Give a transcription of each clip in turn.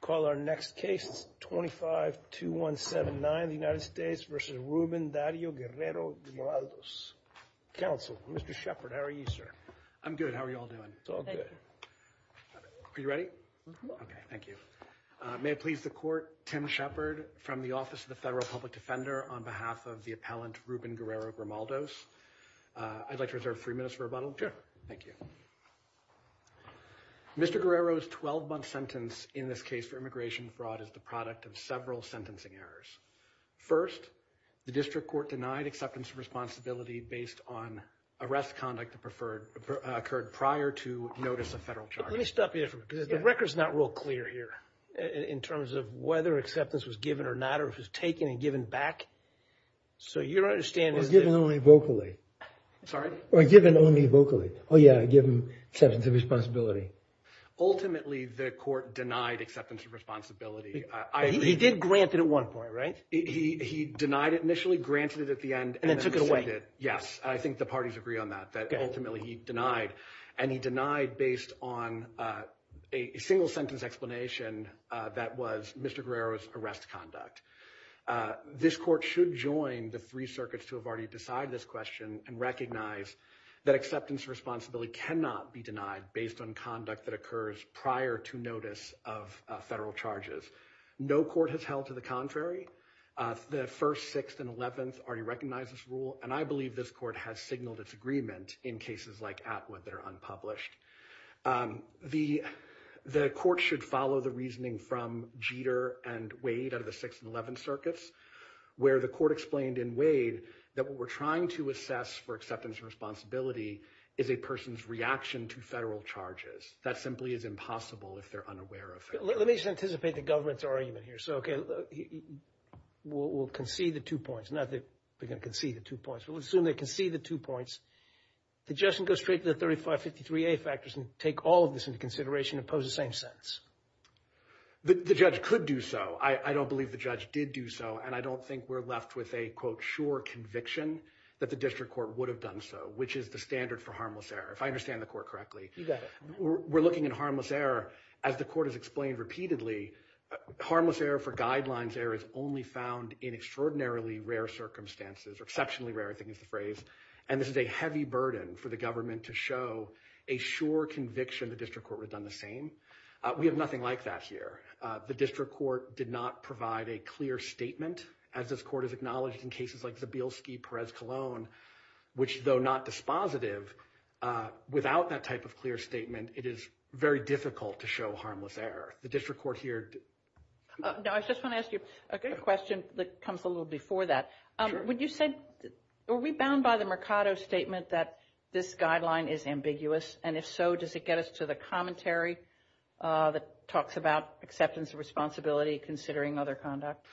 Call our next case, 252179, United States v. Ruben Dario Guerrero Grimaldos, counsel. Mr. Shepherd, how are you, sir? I'm good. How are you all doing? It's all good. Are you ready? Mm-hmm. Okay, thank you. May it please the court, Tim Shepherd from the Office of the Federal Public Defender on behalf of the appellant, Ruben Guerrero Grimaldos. I'd like to reserve three minutes for rebuttal. Thank you. Mr. Guerrero's 12-month sentence in this case for immigration fraud is the product of several sentencing errors. First, the district court denied acceptance of responsibility based on arrest conduct that occurred prior to notice of federal charges. Let me stop you there for a minute, because the record's not real clear here in terms of whether acceptance was given or not, or if it was taken and given back. So your understanding is that... Or given only vocally. Sorry? Or given only vocally. Oh, yeah, given acceptance of responsibility. Ultimately, the court denied acceptance of responsibility. He did grant it at one point, right? He denied it initially, granted it at the end, and then... And then took it away. Yes, I think the parties agree on that, that ultimately he denied. And he denied based on a single-sentence explanation that was Mr. Guerrero's arrest conduct. This court should join the three circuits to have already decided this question and recognize that acceptance of responsibility cannot be denied based on conduct that occurs prior to notice of federal charges. No court has held to the contrary. The First, Sixth, and Eleventh already recognize this rule, and I believe this court has signaled its agreement in cases like Atwood that are unpublished. The court should follow the reasoning from Jeter and Wade out of the Sixth and Eleventh circuits, where the court explained in Wade that what we're trying to assess for acceptance of responsibility is a person's reaction to federal charges. That simply is impossible if they're unaware of it. Let me just anticipate the government's argument here. So, okay, we'll concede the two points, not that they're going to concede the two points, but we'll assume they concede the two points. The judge can go straight to the 3553A factors and take all of this into consideration and pose the same sentence. The judge could do so. I don't believe the judge did do so, and I don't think we're left with a, quote, sure conviction that the district court would have done so, which is the standard for harmless error, if I understand the court correctly. You got it. We're looking at harmless error. As the court has explained repeatedly, harmless error for only found in extraordinarily rare circumstances, or exceptionally rare, I think is the phrase, and this is a heavy burden for the government to show a sure conviction the district court would have done the same. We have nothing like that here. The district court did not provide a clear statement, as this court has acknowledged in cases like Zabilski-Perez-Colón, which though not dispositive, without that type of clear statement, it is very difficult to show harmless error. The district court here- No, I just want to ask you a question that comes a little before that. Would you say, are we bound by the Mercado statement that this guideline is ambiguous, and if so, does it get us to the commentary that talks about acceptance of responsibility considering other conduct?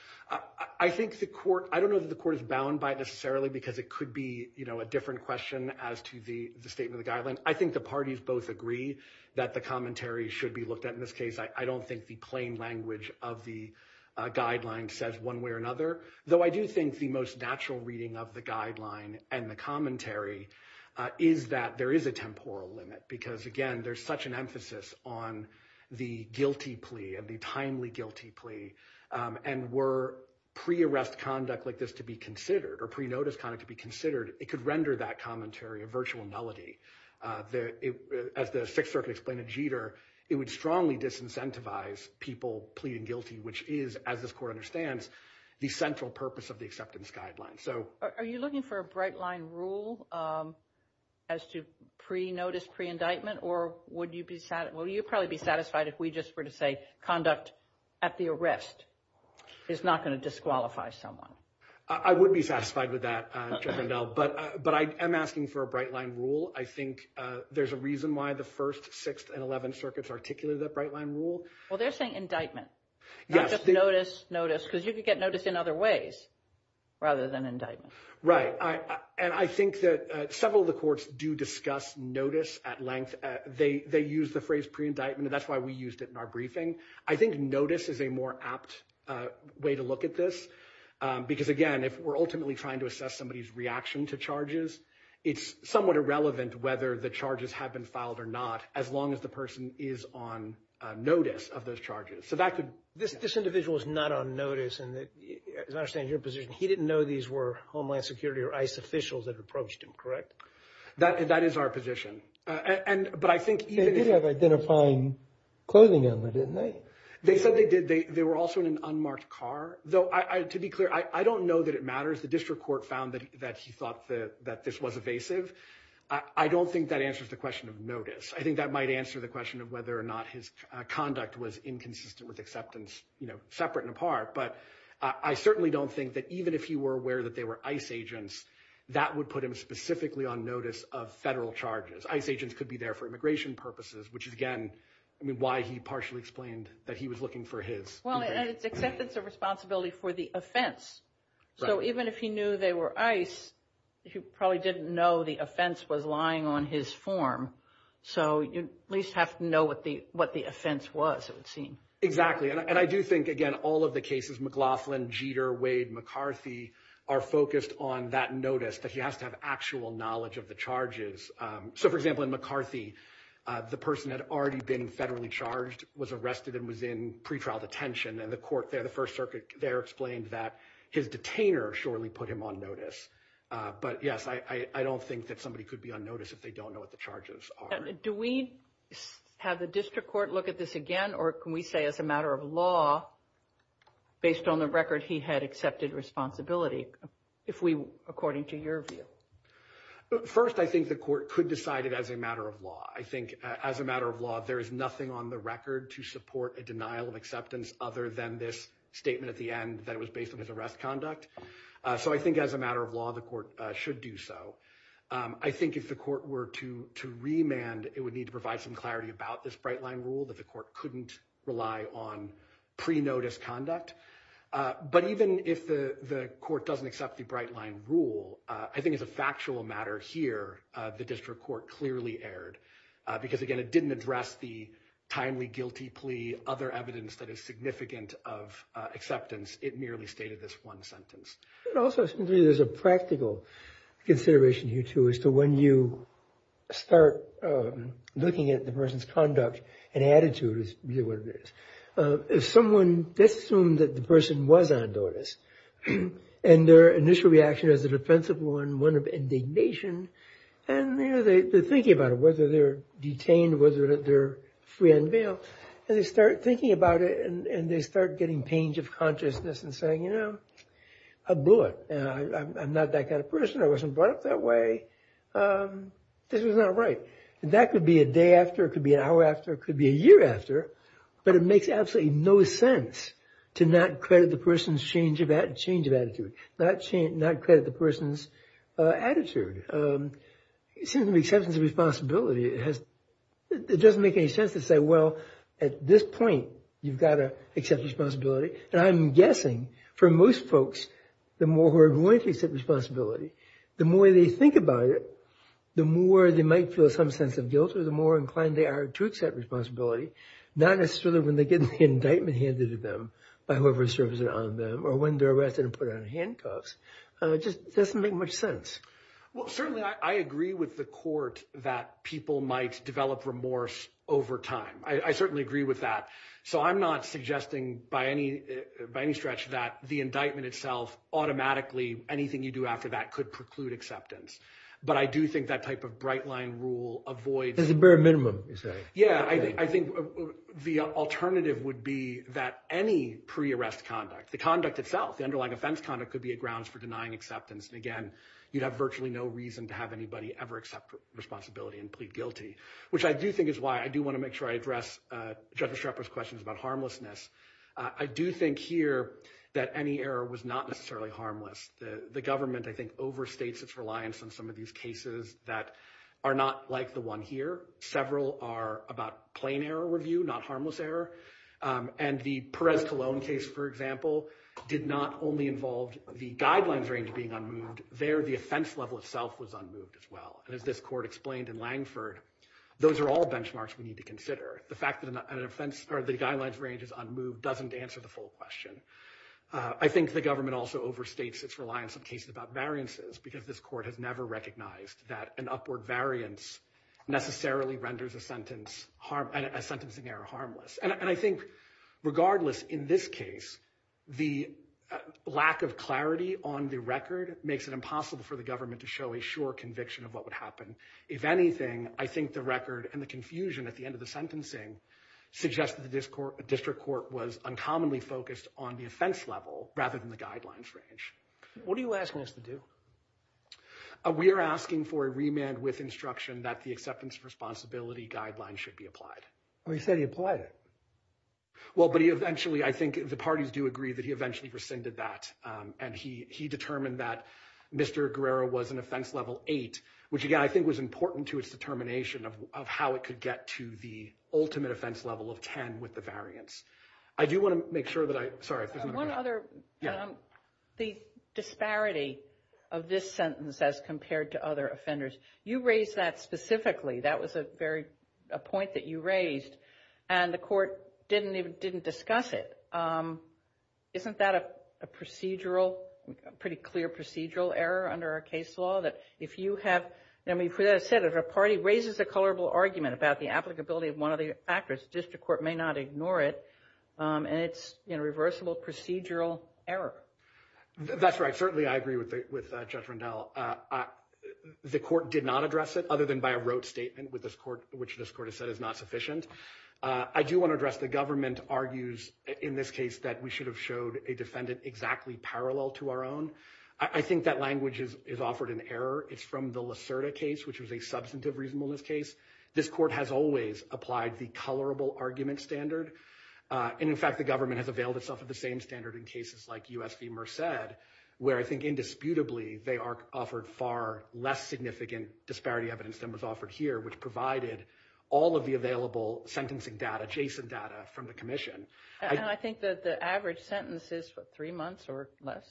I think the court, I don't know that the court is bound by it necessarily, because it could be, you know, a different question as to the statement of the guideline. I think the parties both agree that the commentary should be looked at in this case. I don't think the plain language of the guideline says one way or another, though I do think the most natural reading of the guideline and the commentary is that there is a temporal limit, because again, there's such an emphasis on the guilty plea and the timely guilty plea, and were pre-arrest conduct like this to be considered, or pre-notice conduct to be considered, it could render that commentary a virtual nullity. As the Sixth Circuit explained in Jeter, it would strongly disincentivize people pleading guilty, which is, as this court understands, the central purpose of the acceptance guideline. Are you looking for a bright line rule as to pre-notice, pre-indictment, or would you be, will you probably be satisfied if we just were to say conduct at the arrest is not going to disqualify someone? I would be satisfied with that, Judge Rendell, but I am asking for a bright line rule. I Well, they're saying indictment, not just notice, notice, because you could get notice in other ways rather than indictment. Right, and I think that several of the courts do discuss notice at length. They use the phrase pre-indictment, and that's why we used it in our briefing. I think notice is a more apt way to look at this, because again, if we're ultimately trying to assess somebody's reaction to charges, it's somewhat irrelevant whether the charges have been filed or not as long as the person is on notice of those charges. So that could... This individual is not on notice, and as I understand your position, he didn't know these were Homeland Security or ICE officials that approached him, correct? That is our position. They did have identifying clothing on them, didn't they? They said they did. They were also in an unmarked car, though to be clear, I don't know that it matters. The district court found that he thought that this was evasive. I don't think that answers the question of notice. I think that might answer the question of whether or not his conduct was inconsistent with acceptance, separate and apart, but I certainly don't think that even if he were aware that they were ICE agents, that would put him specifically on notice of federal charges. ICE agents could be there for immigration purposes, which is again, I mean, why he partially explained that he was looking for his... Well, and it's acceptance of responsibility for the offense. So even if he knew they were ICE, he probably didn't know the offense was lying on his form. So you at least have to know what the offense was, it would seem. Exactly. And I do think, again, all of the cases, McLaughlin, Jeter, Wade, McCarthy, are focused on that notice that he has to have actual knowledge of the charges. So for example, in McCarthy, the person had already been federally charged, was arrested and was in pretrial detention, and the court there, the First Circuit there explained that his detainer surely put him on notice. But yes, I don't think that somebody could be on notice if they don't know what the charges are. Do we have the district court look at this again, or can we say as a matter of law, based on the record, he had accepted responsibility, if we, according to your view? First, I think the court could decide it as a matter of law. I think as a matter of law, there is nothing on the record to support a denial of acceptance other than this statement at the end that it was based on his arrest conduct. So I think as a matter of law, the court should do so. I think if the court were to remand, it would need to provide some clarity about this bright line rule that the court couldn't rely on pre-notice conduct. But even if the court doesn't accept the bright line rule, I think as a factual matter here, the district court clearly erred. Because again, it didn't address the timely guilty plea, other evidence that is significant of acceptance. It merely stated this one sentence. Also, there's a practical consideration here, too, as to when you start looking at the person's conduct and attitude, is really what it is. If someone assumed that the person was on notice, and their initial reaction is an offensive one, one of indignation, and they're thinking about it, whether they're detained, whether they're free on bail, and they start thinking about it, and they start getting pains of consciousness and saying, you know, I blew it. I'm not that kind of person. I wasn't brought up that way. This was not right. That could be a day after. It could be an hour after. It could be a year after. But it makes absolutely no sense to not credit the person's change of attitude, not credit the person's change of attitude. In terms of acceptance of responsibility, it doesn't make any sense to say, well, at this point, you've got to accept responsibility. And I'm guessing, for most folks, the more who are willing to accept responsibility, the more they think about it, the more they might feel some sense of guilt, or the more inclined they are to accept responsibility, not necessarily when they get the indictment handed to them by whoever or when they're arrested and put on handcuffs. It just doesn't make much sense. Well, certainly, I agree with the court that people might develop remorse over time. I certainly agree with that. So I'm not suggesting by any stretch that the indictment itself automatically, anything you do after that could preclude acceptance. But I do think that type of bright line rule avoids... There's a bare minimum, you're saying. Yeah, I think the alternative would be that any pre-arrest conduct, the conduct itself, the underlying offense conduct, could be a grounds for denying acceptance. And again, you'd have virtually no reason to have anybody ever accept responsibility and plead guilty, which I do think is why I do want to make sure I address Judge Schrepper's questions about harmlessness. I do think here that any error was not necessarily harmless. The government, I think, overstates its reliance on some of these cases that are not like the one here. Several are about plain error review, not harmless error. And the Perez-Colón case, for example, did not only involve the guidelines range being unmoved. There, the offense level itself was unmoved as well. And as this court explained in Langford, those are all benchmarks we need to consider. The fact that the guidelines range is unmoved doesn't answer the full question. I think the government also overstates its reliance on cases about variances because this court has never recognized that an upward variance necessarily renders a sentencing error harmless. And I think regardless, in this case, the lack of clarity on the record makes it impossible for the government to show a sure conviction of what would happen. If anything, I think the record and the confusion at the end of the sentencing suggests that the district court was uncommonly focused on the offense level rather than the guidelines range. What are you asking us to do? We are asking for a remand with instruction that the acceptance of responsibility guidelines should be applied. Well, you said he applied it. Well, but he eventually, I think the parties do agree that he eventually rescinded that and he determined that Mr. Guerrero was an offense level eight, which again, I think was important to its determination of how it could get to the ultimate offense level of 10 with the variance. I do want to make sure that I, sorry. One other, the disparity of this sentence as compared to other offenders, you raised that specifically. That was a very, a point that you raised and the court didn't discuss it. Isn't that a procedural, pretty clear procedural error under our case law that if you have, I mean, as I said, if a party raises a colorable argument about the applicability of one of the actors, district court may not ignore it. And it's a reversible procedural error. That's right. Certainly. I agree with Judge Rundell. The court did not address it other than by a rote statement with this court, which this court has said is not sufficient. I do want to address the government argues in this case that we should have showed a defendant exactly parallel to our own. I think that language is offered in error. It's from the Lacerda case, which was a colorable argument standard. And in fact, the government has availed itself of the same standard in cases like U.S. v. Merced, where I think indisputably they are offered far less significant disparity evidence than was offered here, which provided all of the available sentencing data, adjacent data from the commission. And I think that the average sentence is what, three months or less?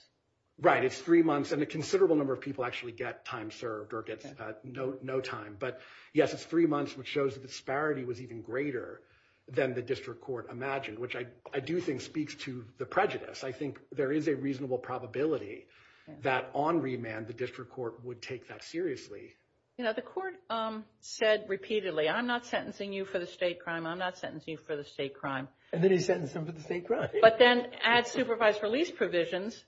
Right. It's three months and a considerable number of people actually get time served or get no time. But yes, it's three months, which shows the disparity was even greater than the district court imagined, which I do think speaks to the prejudice. I think there is a reasonable probability that on remand, the district court would take that seriously. You know, the court said repeatedly, I'm not sentencing you for the state crime. I'm not sentencing you for the state crime. And then he sentenced him for the state crime. But then add supervised release provisions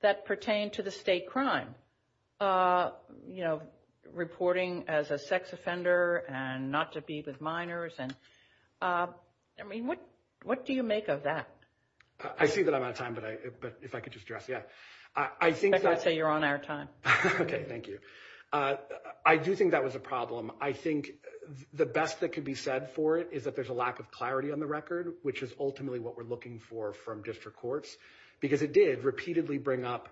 that pertain to the state crime. You know, reporting as a sex offender and not to be with minors. And I mean, what what do you make of that? I see that I'm out of time, but if I could just address. Yeah, I think I'd say you're on our time. OK, thank you. I do think that was a problem. I think the best that could be said for it is that there's a lack of clarity on the record, which is ultimately what we're looking for from district courts, because it did repeatedly bring up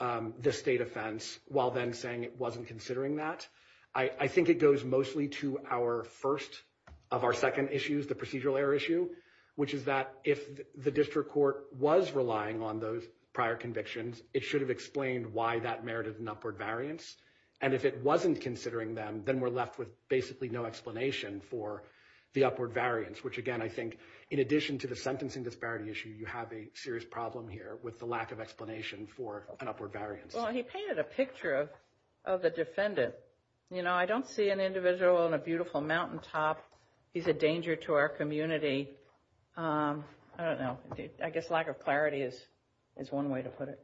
the state offense while then saying it wasn't considering that. I think it goes mostly to our first of our second issues, the procedural error issue, which is that if the district court was relying on those prior convictions, it should have explained why that merited an upward variance. And if it wasn't considering them, then we're left with basically no explanation for the upward variance, which, again, I think in addition to the sentencing disparity issue, you have a serious problem here with the lack of explanation for an upward variance. Well, he painted a picture of the defendant. You know, I don't see an individual on a beautiful mountaintop. He's a danger to our community. I don't know. I guess lack of clarity is is one way to put it.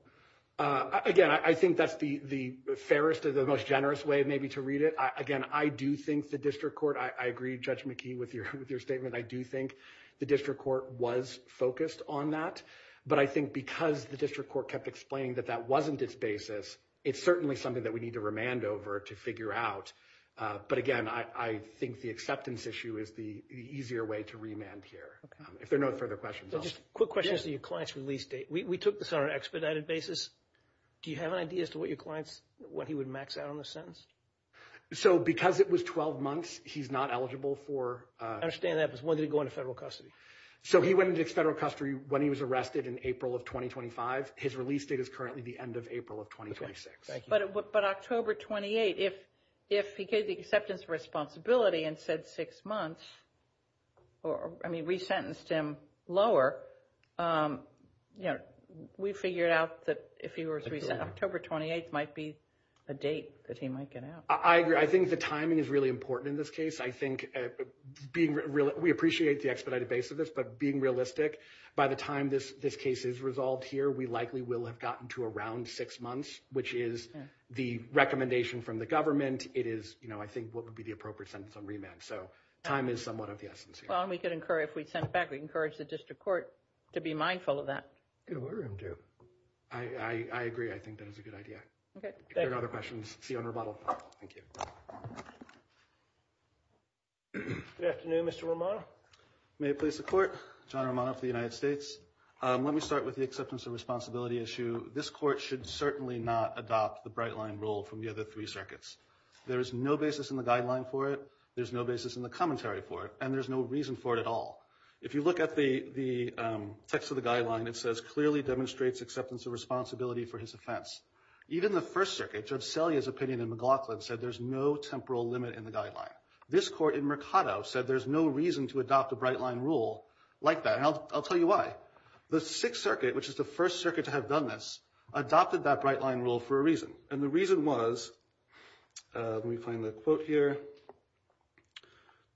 Again, I think that's the the fairest of the most generous way maybe to read it. Again, I do think the district court, I agree, Judge McKee, with your with your statement. I do think the district court was focused on that. But I think because the district court kept explaining that that wasn't its basis, it's certainly something that we need to remand over to figure out. But again, I think the acceptance issue is the easier way to remand here. If there are no further questions. Quick question as to your client's release date. We took this on an expedited basis. Do you have an idea as to what your client's, what he would max out on the sentence? So because it was 12 months, he's not eligible for. I understand that. But when did he go into federal custody? So he went into federal custody when he was arrested in April of 2025. His release date is currently the end of April of 2026. But October 28, if if he gave the acceptance responsibility and said six months or I mean, resentenced him lower, you know, we figured out that if he were to resent October 28 might be a date that he might get out. I agree. I think the timing is really important in this case. I think being real, we appreciate the expedited base of this, but being realistic, by the time this this case is resolved here, we likely will have gotten to around six months, which is the recommendation from the government. It is, you know, I think what would be the appropriate sentence on remand. So time is somewhat of the essence. Well, we could incur if we send it back. We encourage the district court to be mindful of that. I agree. I think that is a good idea. There are other questions. See you on rebuttal. Thank you. Good afternoon, Mr. Romano. May it please the court. John Romano for the United States. Let me start with the acceptance of responsibility issue. This court should certainly not adopt the bright line rule from the other three circuits. There is no basis in the guideline for it. There's no basis in the commentary for it. And there's no reason for it at all. If you look at the text of the guideline, it says clearly demonstrates acceptance of responsibility for his offense. Even the First Circuit, Judge Selye's opinion in McLaughlin said there's no temporal limit in the guideline. This court in Mercado said there's no reason to adopt a bright line rule like that. And I'll tell you why. The Sixth Circuit, which is the first circuit to have done this, adopted that bright line rule for a reason. And the reason was, let me find the quote here,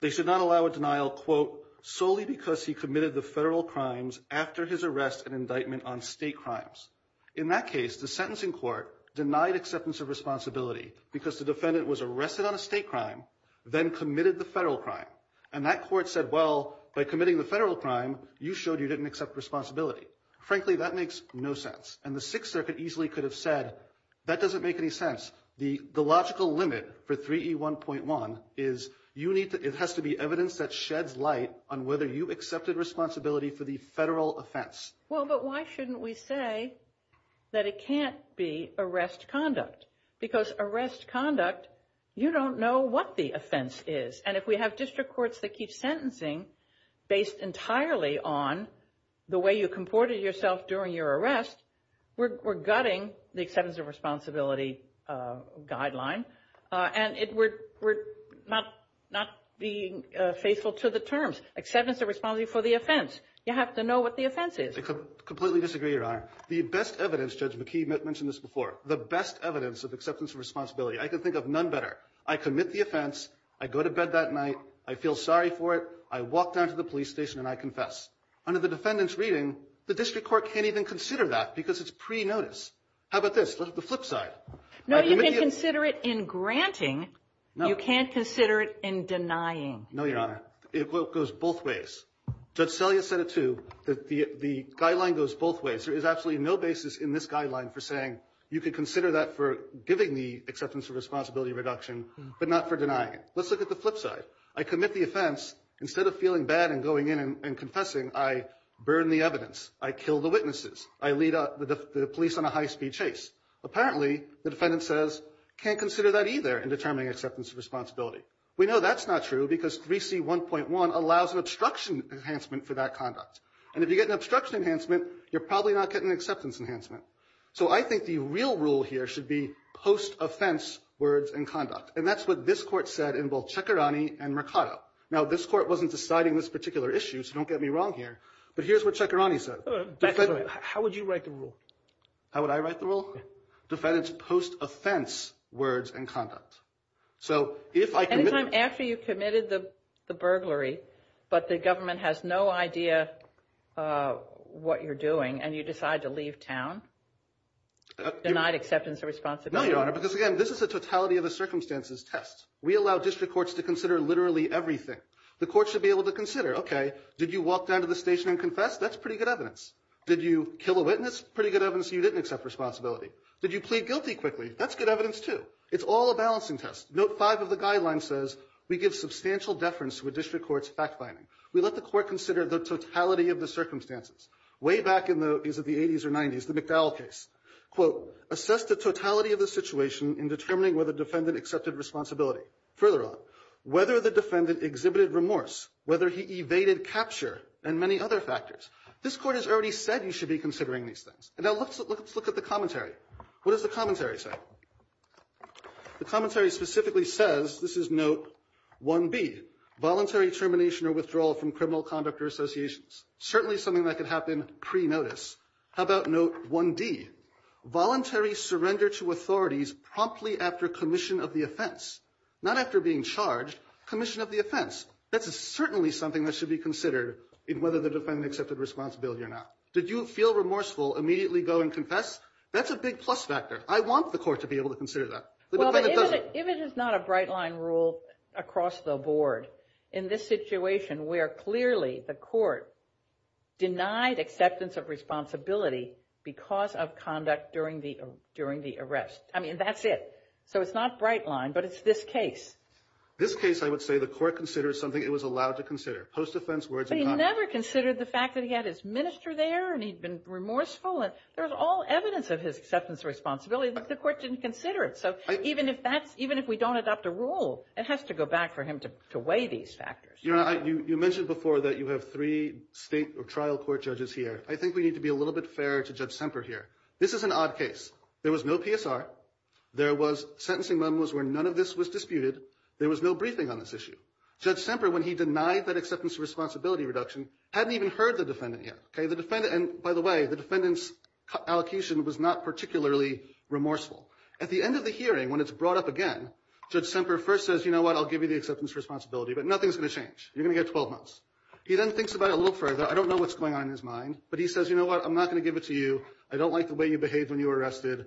they should not allow a denial, quote, solely because he committed the federal crimes after his arrest and indictment on state crimes. In that case, the sentencing court denied acceptance of responsibility because the defendant was arrested on a state crime, then committed the federal crime. And that court said, well, by committing the federal crime, you showed you didn't accept responsibility. Frankly, that makes no sense. And the Sixth Circuit easily could have said, that doesn't make any sense. The logical limit for 3E1.1 is it has to be evidence that sheds light on whether you accepted responsibility for the federal offense. Well, but why shouldn't we say that it can't be arrest conduct? Because arrest conduct, you don't know what the offense is. And if we have district courts that keep sentencing based entirely on the way you comported yourself during your arrest, we're gutting the acceptance of responsibility guideline. And we're not being faithful to the terms. Acceptance of responsibility for the offense. You have to know what the offense is. I completely disagree, Your Honor. The best evidence, Judge McKee mentioned this before, the best evidence of acceptance of responsibility. I can think of none better. I commit the offense. I go to bed that night. I feel sorry for it. I walk down to the police station and I confess. Under the defendant's reading, the district court can't even consider that because it's pre-notice. How about this? The flip side. No, you can consider it in granting. You can't consider it in denying. No, Your Honor. It goes both ways. Judge Selye said it too. The guideline goes both ways. There is absolutely no basis in this guideline for saying you can consider that for giving the acceptance of responsibility reduction, but not for denying it. Let's look at the flip side. I commit the offense. Instead of feeling bad and going in and confessing, I burn the evidence. I kill the witnesses. I lead the police on a high-speed chase. Apparently, the defendant says, can't consider that either in determining acceptance of responsibility. We know that's not true because 3C1.1 allows an obstruction enhancement for that conduct. And if you get an obstruction enhancement, you're probably not getting an acceptance enhancement. So I think the real rule here should be post-offense words and conduct. And that's what this Court said in both Cekirani and Mercado. Now, this Court wasn't deciding this particular issue, so don't get me wrong here, but here's what Cekirani said. How would you write the rule? How would I write the rule? Defendant's post-offense words and conduct. Any time after you've committed the burglary but the government has no idea what you're doing and you decide to leave town, denied acceptance of responsibility? No, Your Honor, because, again, this is a totality of the circumstances test. We allow district courts to consider literally everything. The court should be able to consider, okay, did you walk down to the station and confess? That's pretty good evidence. Did you kill a witness? Pretty good evidence you didn't accept responsibility. Did you plead guilty quickly? That's good evidence, too. It's all a balancing test. Note 5 of the guideline says we give substantial deference to a district court's fact-finding. We let the court consider the totality of the circumstances. Way back in the, is it the 80s or 90s, the McDowell case. Quote, assess the totality of the situation in determining whether defendant accepted responsibility. Further on, whether the defendant exhibited remorse, whether he evaded capture, and many other factors. This Court has already said you should be considering these things. Now, let's look at the commentary. What does the commentary say? The commentary specifically says, this is note 1B, voluntary termination or withdrawal from criminal conduct or associations. Certainly something that could happen pre-notice. How about note 1D? Voluntary surrender to authorities promptly after commission of the offense. Not after being charged, commission of the offense. That's certainly something that should be considered in whether the defendant accepted responsibility or not. Did you feel remorseful, immediately go and confess? That's a big plus factor. I want the court to be able to consider that. If the defendant doesn't. If it is not a bright line rule across the board, in this situation where clearly the court denied acceptance of responsibility because of conduct during the arrest. I mean, that's it. So it's not bright line, but it's this case. This case, I would say, the court considers something it was allowed to consider. Post-offense words of conduct. He never considered the fact that he had his minister there and he'd been remorseful. There's all evidence of his acceptance of responsibility, but the court didn't consider it. So even if we don't adopt a rule, it has to go back for him to weigh these factors. Your Honor, you mentioned before that you have three state or trial court judges here. I think we need to be a little bit fairer to Judge Semper here. This is an odd case. There was no PSR. There was sentencing where none of this was disputed. There was no briefing on this issue. Judge Semper, when he denied that acceptance of responsibility reduction, hadn't even heard the defendant yet. By the way, the defendant's allocation was not particularly remorseful. At the end of the hearing, when it's brought up again, Judge Semper first says, you know what, I'll give you the acceptance of responsibility, but nothing's going to change. You're going to get 12 months. He then thinks about it a little further. I don't know what's going on in his mind, but he says, you know what, I'm not going to give it to you. I don't like the way you behaved when you were arrested.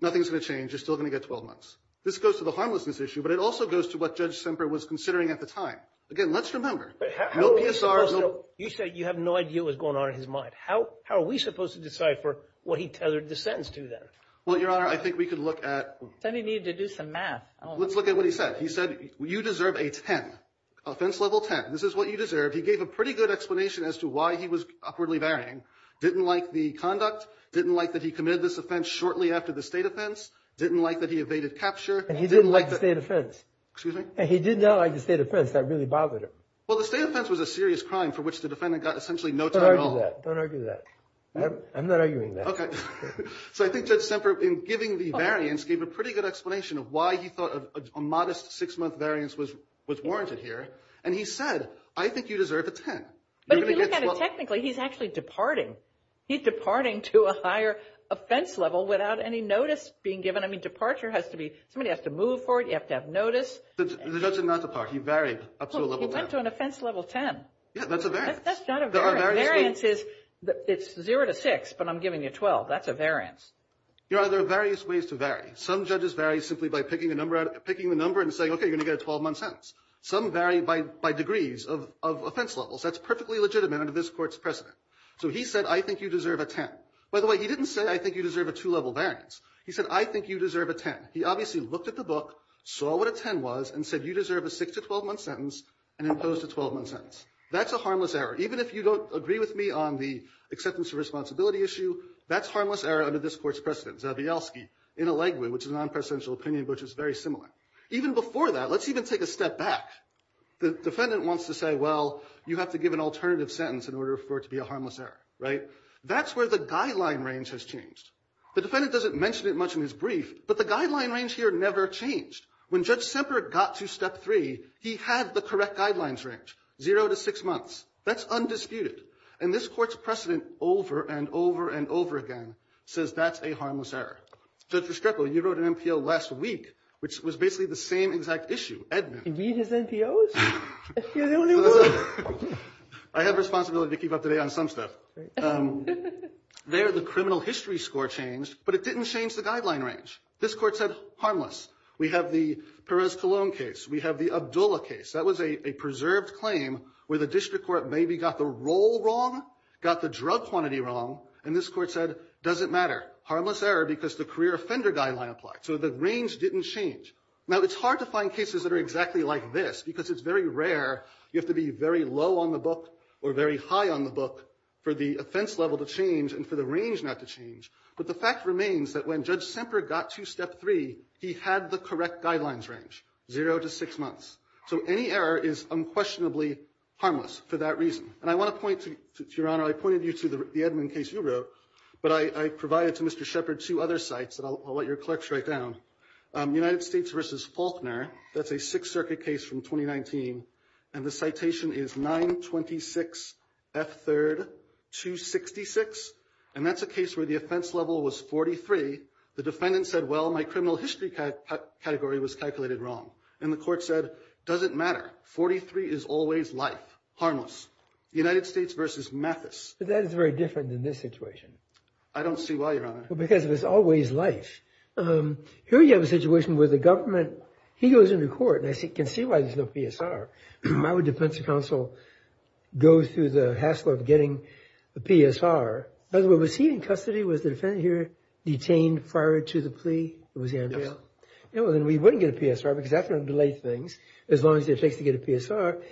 Nothing's going to change. You're still going to get 12 months. This goes to the harmlessness issue, but it also goes to what Judge Semper was considering at the time. Again, let's remember, no PSR. You said you have no idea what's going on in his mind. How are we supposed to decide for what he tethered the sentence to then? Well, Your Honor, I think we could look at. I think he needed to do some math. Let's look at what he said. He said, you deserve a 10, offense level 10. This is what you deserve. He gave a pretty good explanation as to why he was awkwardly varying. Didn't like the conduct. Didn't like that he committed this offense shortly after the state offense. Didn't like that he evaded capture. And he didn't like the state offense. Excuse me? And he did not like the state offense. That really bothered him. Well, the state offense was a serious crime for which the defendant got essentially no time at all. Don't argue that. Don't argue that. I'm not arguing that. So I think Judge Semper, in giving the variance, gave a pretty good explanation of why he thought a modest 6-month variance was warranted here. And he said, I think you deserve a 10. But if you look at it technically, he's actually departing. He's departing to a higher offense level without any notice being given. I mean, departure has to be, somebody has to move for it. You have to have notice. The judge did not depart. He varied up to a level 10. He went to an offense level 10. Yeah, that's a variance. That's not a variance. A variance is, it's 0 to 6, but I'm giving you 12. That's a variance. There are various ways to vary. Some judges vary simply by picking the number and saying, okay, you're going to get a 12-month sentence. Some vary by degrees of offense levels. That's perfectly legitimate under this court's precedent. So he said, I think you deserve a 10. By the way, he didn't say, I think you deserve a 2-level variance. He said, I think you deserve a 10. He obviously looked at the book, saw what a 10 was, and said, you deserve a 6- to 12-month sentence, and imposed a 12-month sentence. That's a harmless error. Even if you don't agree with me on the acceptance of responsibility issue, that's harmless error under this court's precedent. Zawielski, in a legway, which is a non-presidential opinion, which is very similar. Even before that, let's even take a step back. The defendant wants to say, well, you have to give an alternative sentence in order for it to be a harmless error, right? That's where the guideline range has changed. The defendant doesn't mention it much in his brief, but the guideline range here never changed. When Judge Semper got to step 3, he had the correct guidelines range, 0 to 6 months. That's undisputed. And this court's precedent over and over and over again says that's a harmless error. Judge Restrepo, you wrote an NPO last week, which was basically the same exact issue. Did he read his NPOs? You're the only one. I have responsibility to keep up to date on some stuff. There, the criminal history score changed, but it didn't change the guideline range. This court said, harmless. We have the Perez-Colón case. We have the Abdullah case. That was a preserved claim where the district court maybe got the role wrong, got the drug quantity wrong. And this court said, doesn't matter. Harmless error because the career offender guideline applied. So the range didn't change. Now, it's hard to find cases that are exactly like this because it's very rare. You have to be very low on the book or very high on the book for the offense level to change and for the range not to change. But the fact remains that when Judge Semper got to step 3, he had the correct guidelines range, 0 to 6 months. So any error is unquestionably harmless for that reason. And I want to point to, Your Honor, I pointed you to the Edmund case you wrote, but I provided to Mr. Shepard two other sites that I'll let your clerks write down. United States v. Faulkner. That's a Sixth Circuit case from 2019. And the citation is 926F3-266. And that's a case where the offense level was 43. The defendant said, well, my criminal history category was calculated wrong. And the court said, doesn't matter. 43 is always life. Harmless. United States v. Mathis. But that is very different than this situation. I don't see why, Your Honor. Because it was always life. Here you have a situation where the government, he goes into court. And I can see why there's no PSR. Why would defense counsel go through the hassle of getting a PSR? By the way, was he in custody? Was the defendant here detained prior to the plea? It was Andrea? Then we wouldn't get a PSR because that's going to delay things. As long as it takes to get a PSR.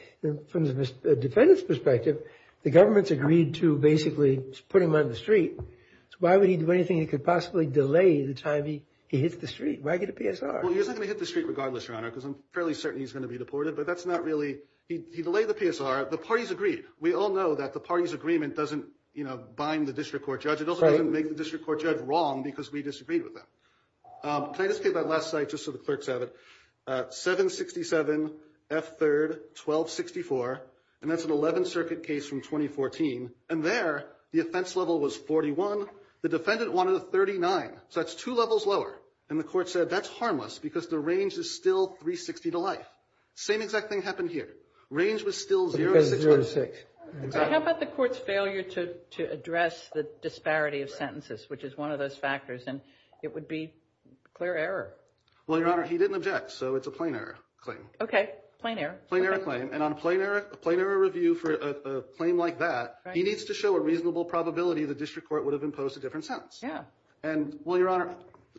From the defendant's perspective, the government's agreed to basically put him on the street. So why would he do anything that could possibly delay the time he hits the street? Why get a PSR? Well, he's not going to hit the street regardless, Your Honor. Because I'm fairly certain he's going to be deported. But that's not really. He delayed the PSR. The parties agreed. We all know that the party's agreement doesn't, you know, bind the district court judge. It also doesn't make the district court judge wrong because we disagreed with them. Can I just take that last slide just so the clerks have it? 767, F3rd, 1264. And that's an 11th Circuit case from 2014. And there, the offense level was 41. The defendant wanted a 39. So that's two levels lower. And the court said that's harmless because the range is still 360 to life. Same exact thing happened here. Range was still 0 to 6. How about the court's failure to address the disparity of sentences, which is one of those factors? And it would be clear error. Well, Your Honor, he didn't object. So it's a plain error claim. Okay. Plain error. Plain error claim. And on a plain error review for a claim like that, he needs to show a reasonable probability the district court would have imposed a different sentence. Yeah. And, well, Your Honor,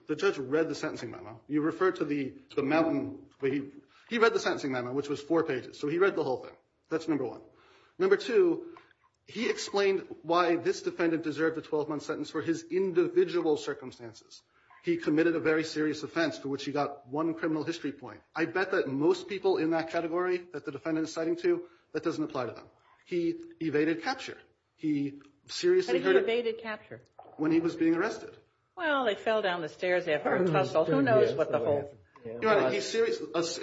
the judge read the sentencing memo. You referred to the mountain. He read the sentencing memo, which was four pages. So he read the whole thing. That's number one. Number two, he explained why this defendant deserved a 12-month sentence for his individual circumstances. He committed a very serious offense for which he got one criminal history point. I bet that most people in that category that the defendant is citing to, that doesn't apply to them. He evaded capture. He seriously hurt him. But he evaded capture. When he was being arrested. Well, they fell down the stairs after a tussle. Who knows what the whole. Your Honor,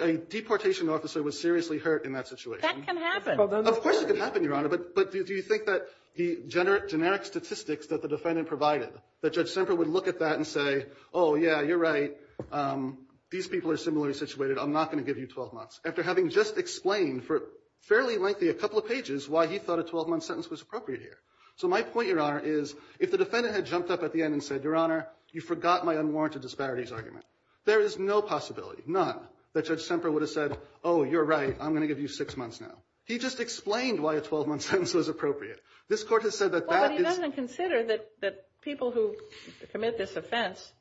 a deportation officer was seriously hurt in that situation. That can happen. Of course it can happen, Your Honor. But do you think that the generic statistics that the defendant provided, that Judge Semper would look at that and say, oh, yeah, you're right, these people are similarly situated. I'm not going to give you 12 months. After having just explained for fairly lengthy, a couple of pages, why he thought a 12-month sentence was appropriate here. So my point, Your Honor, is if the defendant had jumped up at the end and said, Your Honor, you forgot my unwarranted disparities argument. There is no possibility, none, that Judge Semper would have said, oh, you're right. I'm going to give you six months now. He just explained why a 12-month sentence was appropriate. This Court has said that that is. Well, but he doesn't consider that people who commit this offense,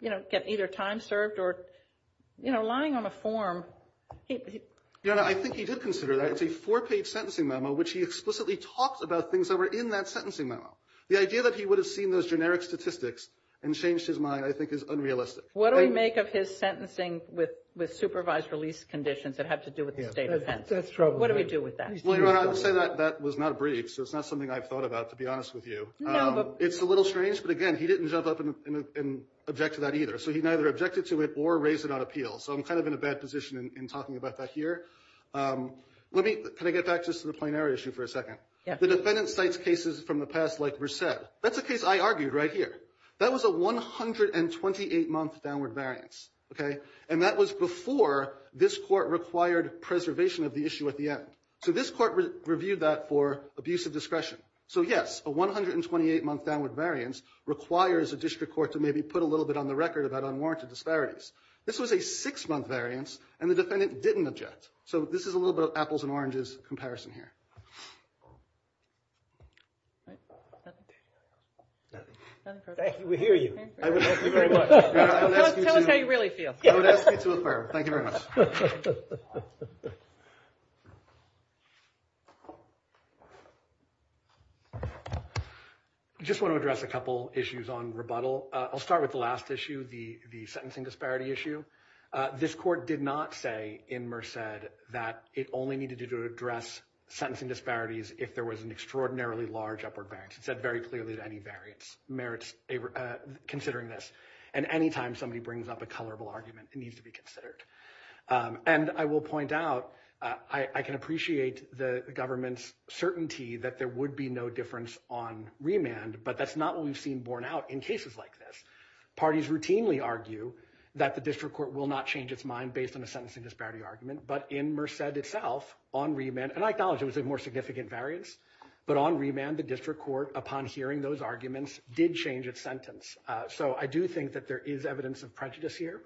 you know, get either time served or, you know, lying on a form. Your Honor, I think he did consider that. It's a four-page sentencing memo which he explicitly talks about things that were in that sentencing memo. The idea that he would have seen those generic statistics and changed his mind, I think, is unrealistic. What do we make of his sentencing with supervised release conditions that have to do with the state offense? That's troubling. What do we do with that? Well, Your Honor, I would say that that was not a brief, so it's not something I've thought about, to be honest with you. It's a little strange, but again, he didn't jump up and object to that either. So he neither objected to it or raised it on appeal. So I'm kind of in a bad position in talking about that here. Let me – can I get back just to the plenary issue for a second? Yes. The defendant cites cases from the past like Verced. That's a case I argued right here. That was a 128-month downward variance, okay? And that was before this Court required preservation of the issue at the end. So this Court reviewed that for abuse of discretion. So, yes, a 128-month downward variance requires a district court to maybe put a little bit on the record about unwarranted disparities. This was a six-month variance, and the defendant didn't object. So this is a little bit of apples and oranges comparison here. Thank you. We hear you. Thank you very much. Tell us how you really feel. I would ask you to affirm. Thank you very much. I just want to address a couple issues on rebuttal. I'll start with the last issue, the sentencing disparity issue. This Court did not say in Verced that it only needed to address sentencing disparities if there was an extraordinarily large upward variance. It said very clearly that any variance merits considering this. And any time somebody brings up a colorable argument, it needs to be considered. And I will point out, I can appreciate the government's certainty that there would be no difference on remand, but that's not what we've seen borne out in cases like this. Parties routinely argue that the district court will not change its mind based on a sentencing disparity argument. But in Verced itself, on remand, and I acknowledge it was a more significant variance, but on remand, the district court, upon hearing those arguments, did change its sentence. So I do think that there is evidence of prejudice here.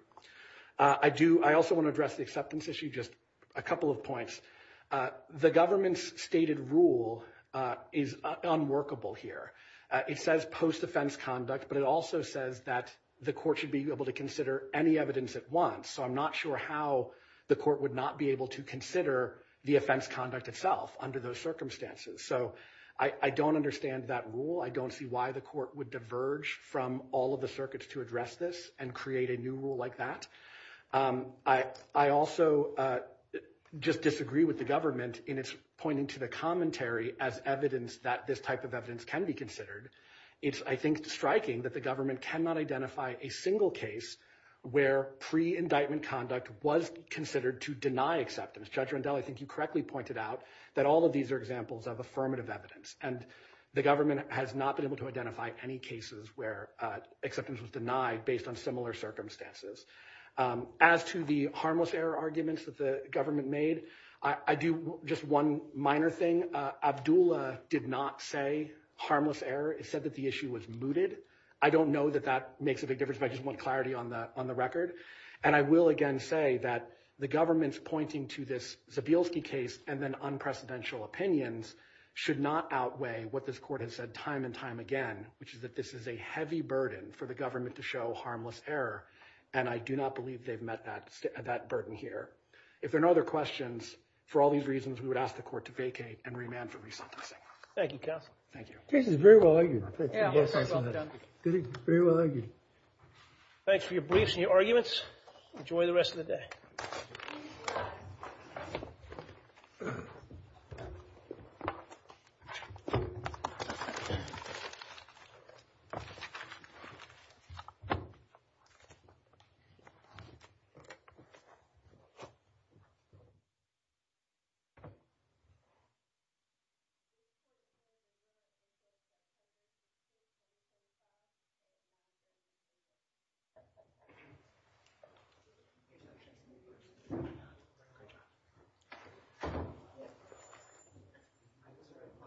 I also want to address the acceptance issue, just a couple of points. The government's stated rule is unworkable here. It says post-offense conduct, but it also says that the court should be able to consider any evidence at once. So I'm not sure how the court would not be able to consider the offense conduct itself under those circumstances. So I don't understand that rule. I don't see why the court would diverge from all of the circuits to address this and create a new rule like that. I also just disagree with the government in its pointing to the commentary as evidence that this type of evidence can be considered. It's, I think, striking that the government cannot identify a single case where pre-indictment conduct was considered to deny acceptance. Judge Rendell, I think you correctly pointed out that all of these are examples of affirmative evidence. And the government has not been able to identify any cases where acceptance was denied based on similar circumstances. As to the harmless error arguments that the government made, I do just one minor thing. Abdullah did not say harmless error. He said that the issue was mooted. I don't know that that makes a big difference, but I just want clarity on the record. And I will again say that the government's pointing to this Zabielski case and then unprecedented opinions should not outweigh what this court has said time and time again, which is that this is a heavy burden for the government to show harmless error. And I do not believe they've met that burden here. If there are no other questions, for all these reasons, we would ask the court to vacate and remand for re-sentencing. Thank you, counsel. Thank you. Case is very well argued. Very well argued. Thanks for your briefs and your arguments. Enjoy the rest of the day. Thank you.